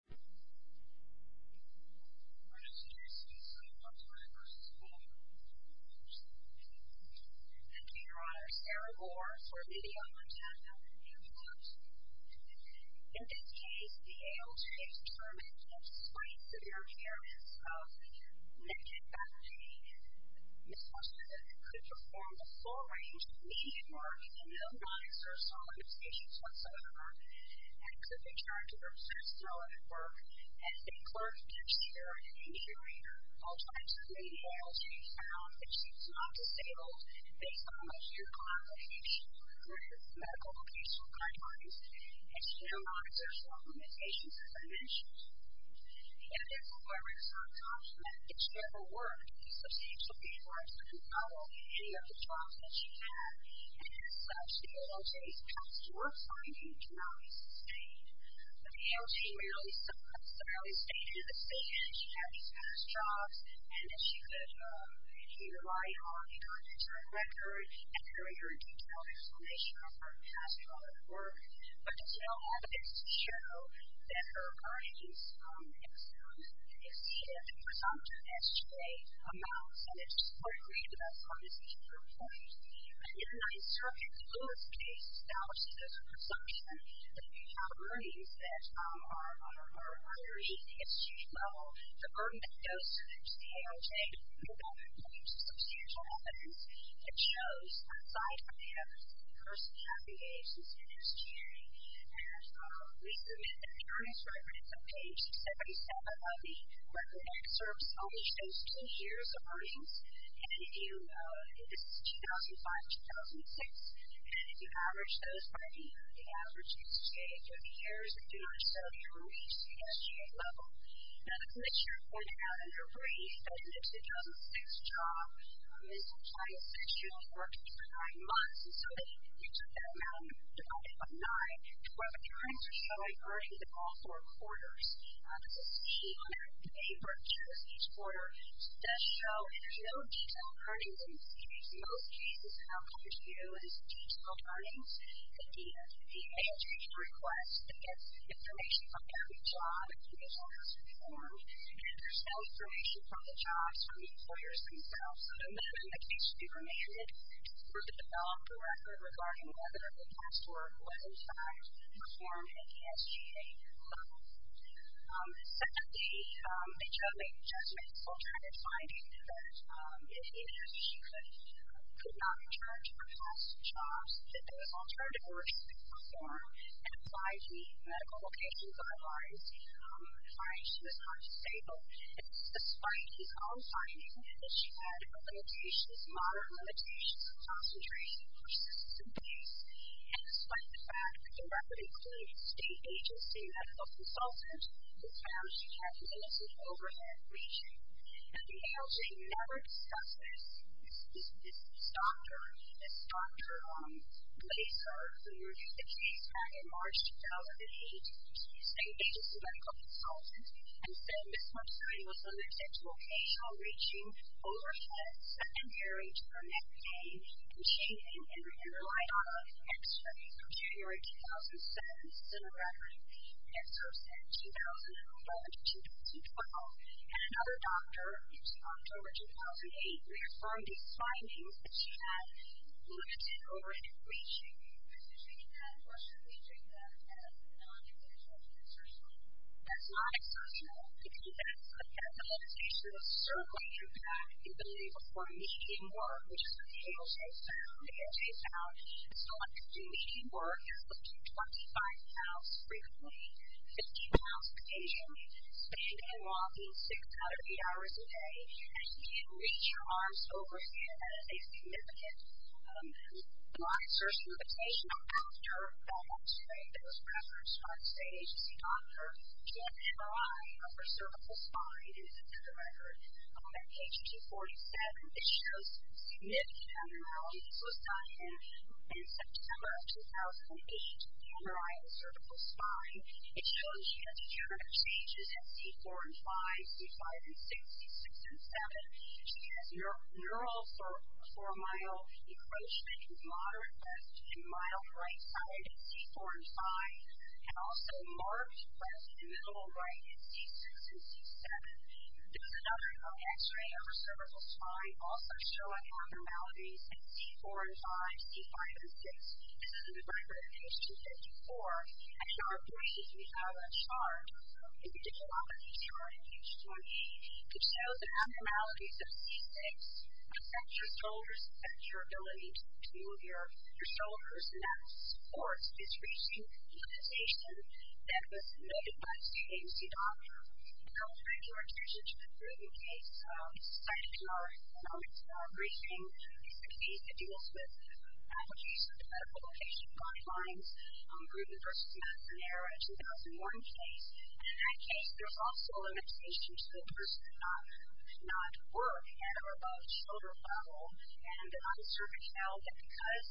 Thank you, Your Honor, Sarah Moore for the video. In this case, the ALJ determined that despite severe impairments of neck and back pain, Ms. Washington could perform a full range of media work and no non-exertional limitations whatsoever, and could return to her past relevant work as a clerk, cashier, and insurer. All types of media ALJ found that she was not disabled, based on a few complications, including medical-patient guidelines, externalizers, or limitations of dimensions. Yet, as although her external jobs meant that she never worked, Ms. Washington realized that she could follow any of the jobs that she had, and as such, the ALJ's past work findings did not dissipate. The ALJ rarely stated that she had these past jobs, and that she could read and write all of the documents on record, and carry her detailed explanation of her past relevant work, but did not have evidence to show that her current use of external, exceeded presumptive SJ amounts, and it's likely that that's what Ms. Washington performed. And yet, in an insurgent's lowest case analysis of presumption, that we have earnings that are underneath the SJ level, the burden that goes to the ALJ to prove that there's substantial evidence that shows that aside from the first half of the age that's in SJ, and we submit that the earnings, right when it's on page 77 of the record excerpts, only shows two years of earnings, and if you, this is 2005-2006, and if you average those by the average age of the years, you do not show that you reached the SJ level. Now, the clips you're pointing out in your brief, those MIPS 2006 jobs, Ms. Washington essentially worked for nine months, and so that you took that amount and divided it by nine, to where the terms are showing earnings in all four quarters. This is a sheet of paper that shows each quarter. It does show that there's no detailed earnings in the series. In most cases, the outcome is new, and it's a detailed earnings. And yet, the main change in request is that information from every job that Ms. Washington performed, and there's no information from the jobs, from the employers themselves, and then the case would be remanded for the developer record regarding whether the past work was in fact performed at the SGA level. Secondly, they chose a judgmental type of finding, that if Ms. Washington could not return to her past jobs, that those alternative works could perform and apply to the medical location guidelines. Finally, she was not disabled, and despite these all findings, she had her limitations, moderate limitations, concentration, persistence of grace, and despite the fact that the record includes a state agency medical consultant who found she had limited overhead reach, that the ALJ never discussed this. This doctor, this doctor later, who reviewed the case back in March 2008, a state agency medical consultant, and said Ms. Washington was under exceptional occasional reaching over her secondary term at the SGA, and she didn't even realize all of the extra, so January 2007 is still a record, and so since 2012, and another doctor in October 2008 reaffirmed these findings that she had limited overhead reaching. MS. WASHINGTON. Ms. Washington had a question featuring that as a non-exceptional concessional. MS. WASHINGTON. It's a non-exceptional concessional because that's a medical location that's a certain way you've got to be able to perform meeting work, which is a table face down, a chair face down, and so on to do meeting work, which can be 25 miles frequently, 50 miles occasionally, standing and walking six out of eight hours a day, and you can reach your arms over here at a significant, non-exceptional location. Another doctor that was referenced by the state agency doctor said MRI of her cervical spine is another record. On page 247, it shows significant MRI. This was done in September of 2008, MRI of the cervical spine. It shows she had degenerative changes at C4 and 5, C5 and 6, C6 and 7. She has neural four-mile encroachment with moderate breast and mild right side at C4 and 5, and also large breast and middle right at C2 and C7. This is another MRI of her cervical spine. It also shows abnormalities at C4 and 5, C5 and 6. This is in the record at page 254. Actually, our appointees, we have a chart, and we did a lot of CTR in page 20, which shows the abnormalities at C6, at your shoulders, at your ability to move your shoulders, and that, of course, is reaching the limitation that was noted by the state agency doctor. Now I'll turn your attention to the Gruden case. It's cited in our briefing. It's a case that deals with allergies to medical location guidelines. It's Gruden v. McNair, a 2001 case, and in that case there's also a limitation to the person's not work at or above shoulder level, and the officer detailed that because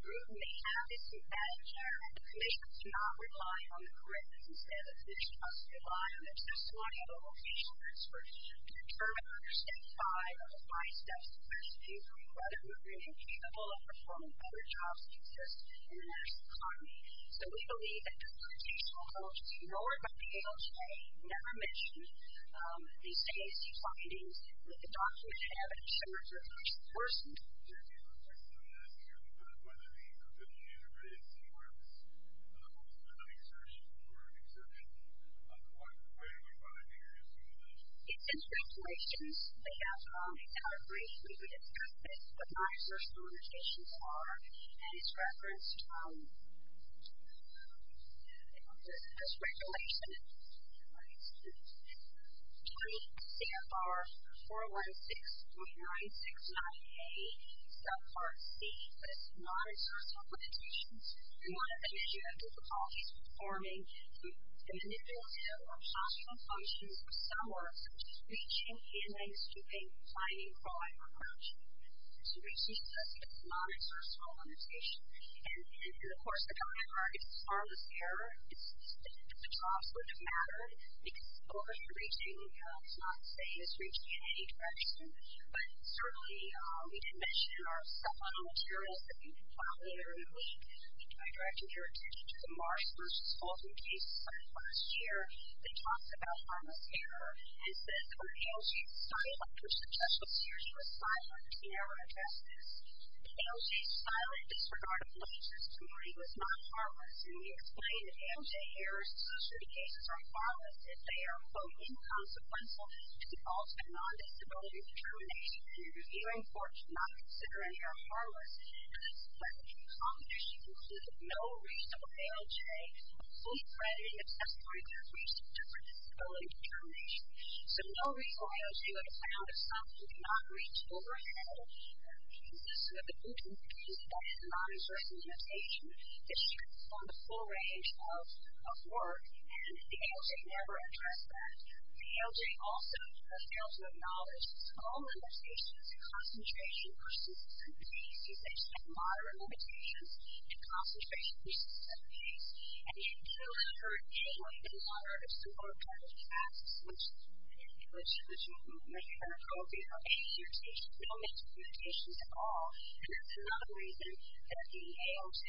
Gruden may have dysmorphatic hair, the commission cannot rely on the correctness. Instead, the commission has to rely on the testimony of the location expert to determine under Step 5 of the Five Steps to Breast Fevering whether Gruden is capable of performing better jobs in the next economy. So we believe that this limitation was noted, but the ALJ never mentioned these case findings, that the doctor would have at the shoulder of the person. It's in translations. They have a category. We would expect that the non-exercial limitations are, and it's referenced in this regulation. CFR 416.969A subpart C, this non-exercial limitation, we want to suggest that the person is performing manipulative or functional functions for some work, which is reaching, handling, stooping, climbing, crawling, or crouching. So we see that it's a non-exercial limitation, and, of course, the CFR is harmless error. The jobs would have mattered, because of course reaching is not saying it's reaching in any direction, but certainly we did mention in our supplemental materials that you can find later in the week, and I direct your attention to the Marsh versus Fulton cases from last year. They talked about harmless error, and said that the ALJ's silent or successful series was silent in our assessments. The ALJ's silent disregard of limits this morning was not harmless, and we explained that ALJ errors associated with cases are harmless if they are, quote, inconsequential to defaults and non-disability determination, and the reviewing court should not consider any are harmless. And this was when the competition concluded that no reasonable ALJ of full-threaded and accessible records reached interpretability determination. So no reasonable ALJ would have found that something did not reach overhead, and this was the Fulton case that is a non-exercise limitation. It's strict upon the full range of work, and the ALJ never addressed that. The ALJ also fails to acknowledge that all limitations and concentration persist in cases that set moderate limitations and concentration persists in cases, and yet still has heard a lot of the moderate or subordinated tasks, which, as you may have heard earlier, have no mental limitations at all, and that's another reason that the ALJ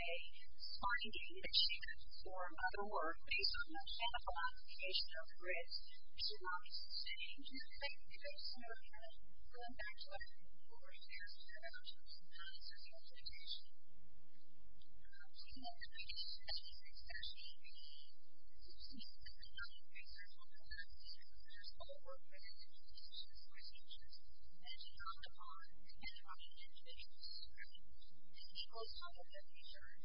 finding that she could perform other work based on the manifold application of grids should not be sustained. Thank you. So now we're going back to our report. There's a lot of questions about social implementation. We want to make sure that this is actually a complete and comprehensive report that considers all work-related limitations or assumptions, and it's not defined by individual standards. It equals all of the features,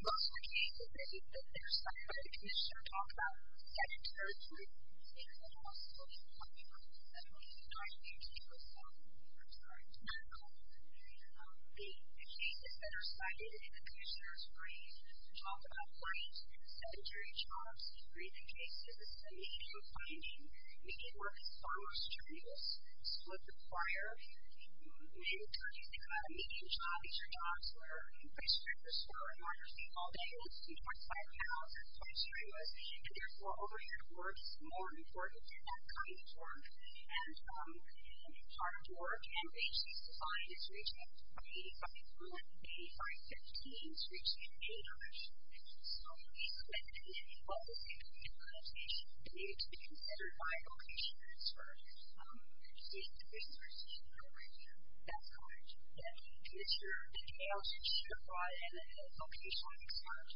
Most of the cases that are cited by the commission talk about sedentary jobs, The cases that are cited in the commissioner's brief talk about white sedentary jobs, breathing cases, median funding, median working hours, terminals, split the choir, median jobs or jobs, Therefore, overhead work is more important than that kind of work, and hard work and wages defined as reaching up to $285,000, $8,515,000, reaching $8,000,000. The implementation of social implementation needed to be considered by a vocation expert. The commissioners are sitting there right now. That's correct. And Mr. McHale should provide a vocation expert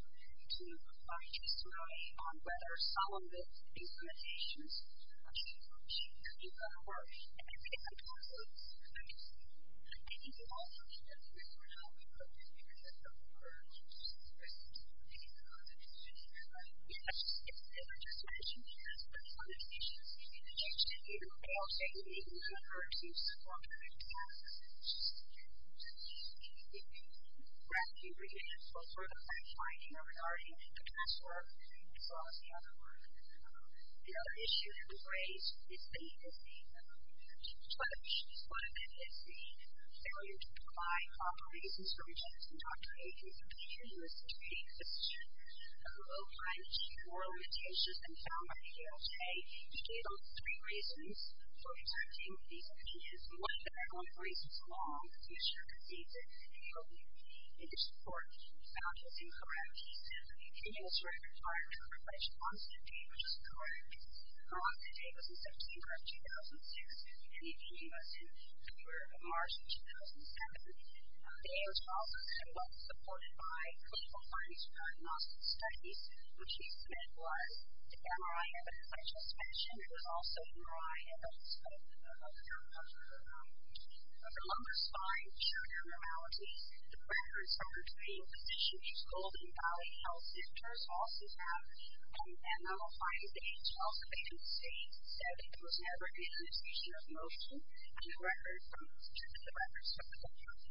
to provide testimony on whether some of the implementations should be considered work. And I think that's a good point. Thank you. I think it's also a good point for how we put this together Yes. As I just mentioned, the implementations need to be changed. And I think Mr. McHale should be able to refer to some of the implementations. It would be rather difficult for the fine-finer regarding the task work as well as the other work. The other issue that was raised is the judge. One of them is the failure to provide proper reasons for making subpoenas in the case. A low-priced oral imitation found by the ALJ became one of the three reasons for exempting the ALJ. One of the relevant reasons along with Mr. Conceited and the other is the court found this incorrect. The ALJ required a refresh on subpoenas. That's correct. Her on-site date was December of 2006, and the ending was in February of March of 2007. The ALJ was supported by clinical findings from diagnostic studies, which he said was the MRI evidence. As I just mentioned, it was also MRI evidence. The lumbar spine, shoulder abnormalities, the records from her training position at Golden Valley Health Centers also have an MRI date. The health agency said it was never an imitation of motion, and the records from the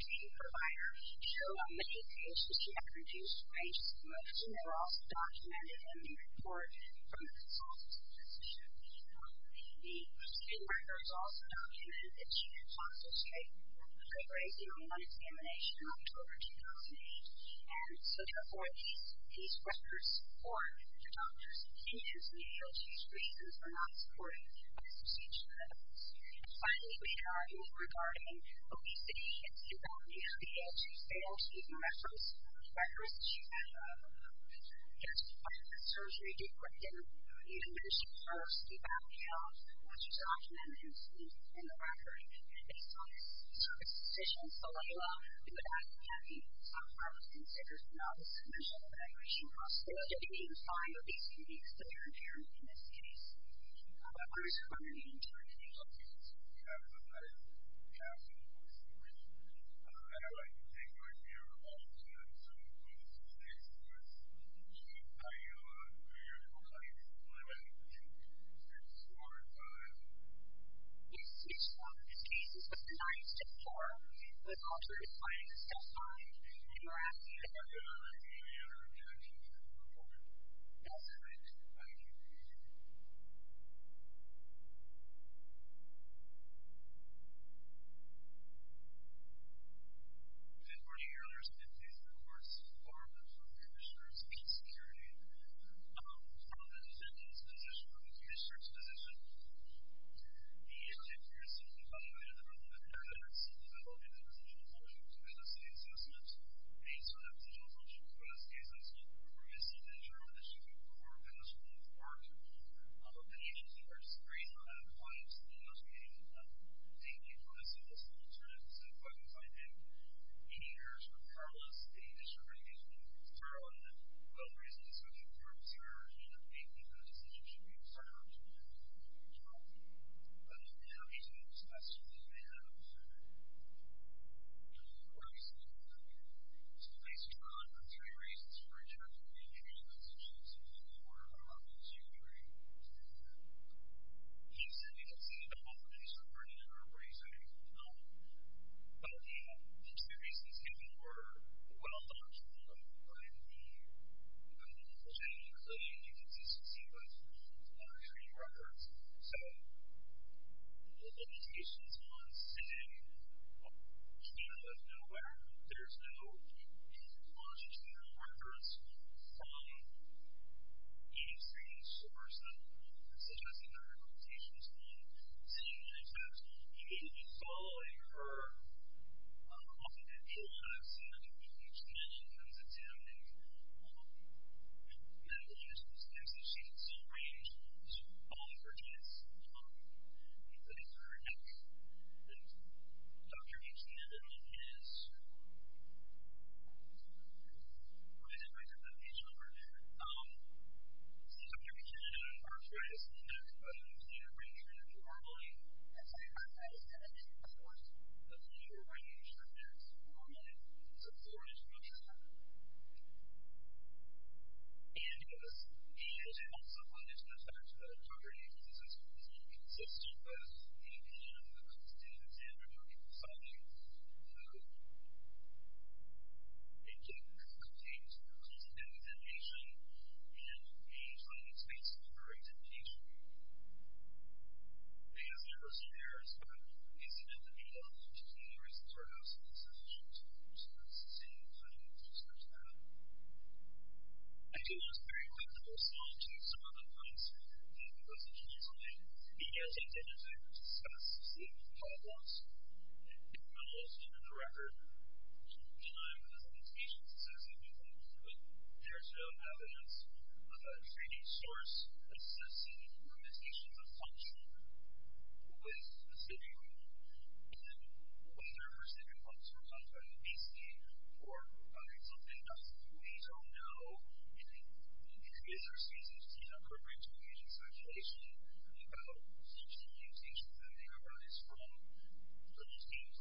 training provider show how many cases she had reduced range of motion. They were also documented in the report from the consultant's position. The student records also documented that she had fossil strain. They were raised in a one-examination in October 2008, and so, therefore, these records support the doctor's opinion that the ALJ's reasons were not supported by the procedure evidence. And finally, we had arguments regarding obesity, and she documented the ALJ's failure to use the records. The records that she had of just a surgery-deprived individual, she posted about how she documented it in the record. Based on the consultant's position, Alayla did not have the self-efficacy indicators to know the significant evaluation cost. So, again, you can find obesity and severe impairment in this case. Of course, we're going to be interviewing Alayla soon, and as I said, it's an absolute waste of time, and I'd like to thank you, right here, for all you've done to put this case to rest. Alayla, your time is limited. We should be able to do this in a shorter time. Yes, it's one of the cases that's nice to hear. The doctor's findings are fine, and we're happy to have you on the team here, and I'm sure you'll do a good job. I'm going to ask you a few more questions, and then we'll move forward. One of the issues that there's great amount of points in those meetings is that they give us a list of alternatives, and if I can find any errors or problems, they just recommend that you start on that. One of the reasons is that there are some errors, and I think that a decision should be made to start on that, and I'm sure you'll do a good job. I'm happy to discuss with you as we have. All right. Thanks, John. There are three reasons for adjourning the interview. Those are two that seem to be more obvious. You agree? Yes, I do. I think it's either the whole case or part of it, or what are you saying? Well, the two reasons, I think, were well thought through when we presented the conclusion that this is a sequence of military records, so the limitations on sitting here is nowhere. There's no logic or reference from any certain source that is suggesting there are limitations on sitting on these beds. You need to be following her. Often people have seen that when Dr. H. Menon comes in, and Dr. H. Menon is one of those names that she's arranged for tennis. And Dr. H. Menon is, what is it, Dr. H. Menon? Dr. H. Menon, first of all, is the name that she's arranged for normally. And second of all, she's the name that she supports, the name that she arranges for tennis. Normally, it's a foreign institution. And, yes, she is also one of those names that Dr. H. Menon uses as well. It's not consistent with the opinion of the constituents and Republican society, though it did contain some inclusive representation and a highly space-corporated nature. And as a person there, it's not easy not to be helpful, which is one of the reasons our house has been set up. So I just wanted to say a couple of words in regards to that. I do want to very quickly go through some of the points that Dr. H. Menon has made. He has intended to discuss some of the problems, and Dr. Menon has written a record denying the limitations associated with them. But there is no evidence of a training source assessing limitations of function with a specific rule. And whether or not specific rules were come from the VC or something else, we don't know. And it is our stance that it's inappropriate to engage in speculation about the function limitations that may arise from those things. I'm sorry. We don't have those conditions. And I think that's really what we need to bring into this conversation. We need to raise these speculations. They might be a lot different. I just think that this is a valid point, and it's true. It's not subject to a training or a set of self-assessing limitations. And we need to have a conversation about that.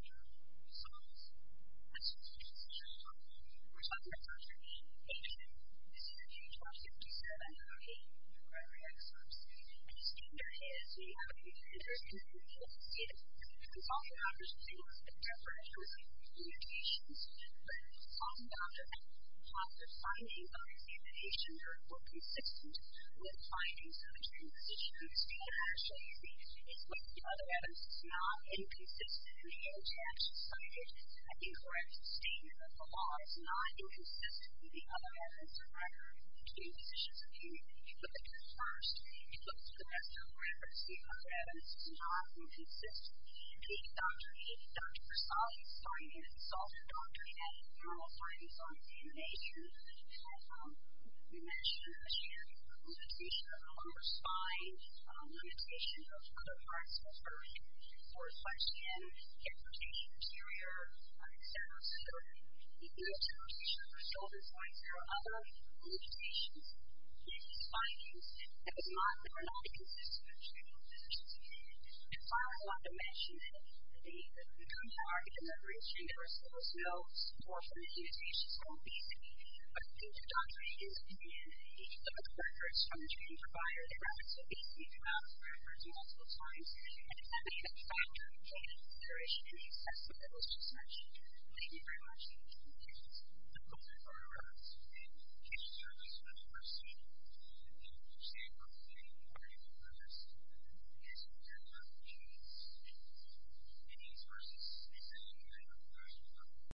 And we need to have a conversation about the limitations of function. That's why I'm going to stop here. And thank you, ladies and gentlemen. Thank you. Thank you. Thank you. Thank you. Thank you. Thank you. Thank you. Thank you. Thank you very much.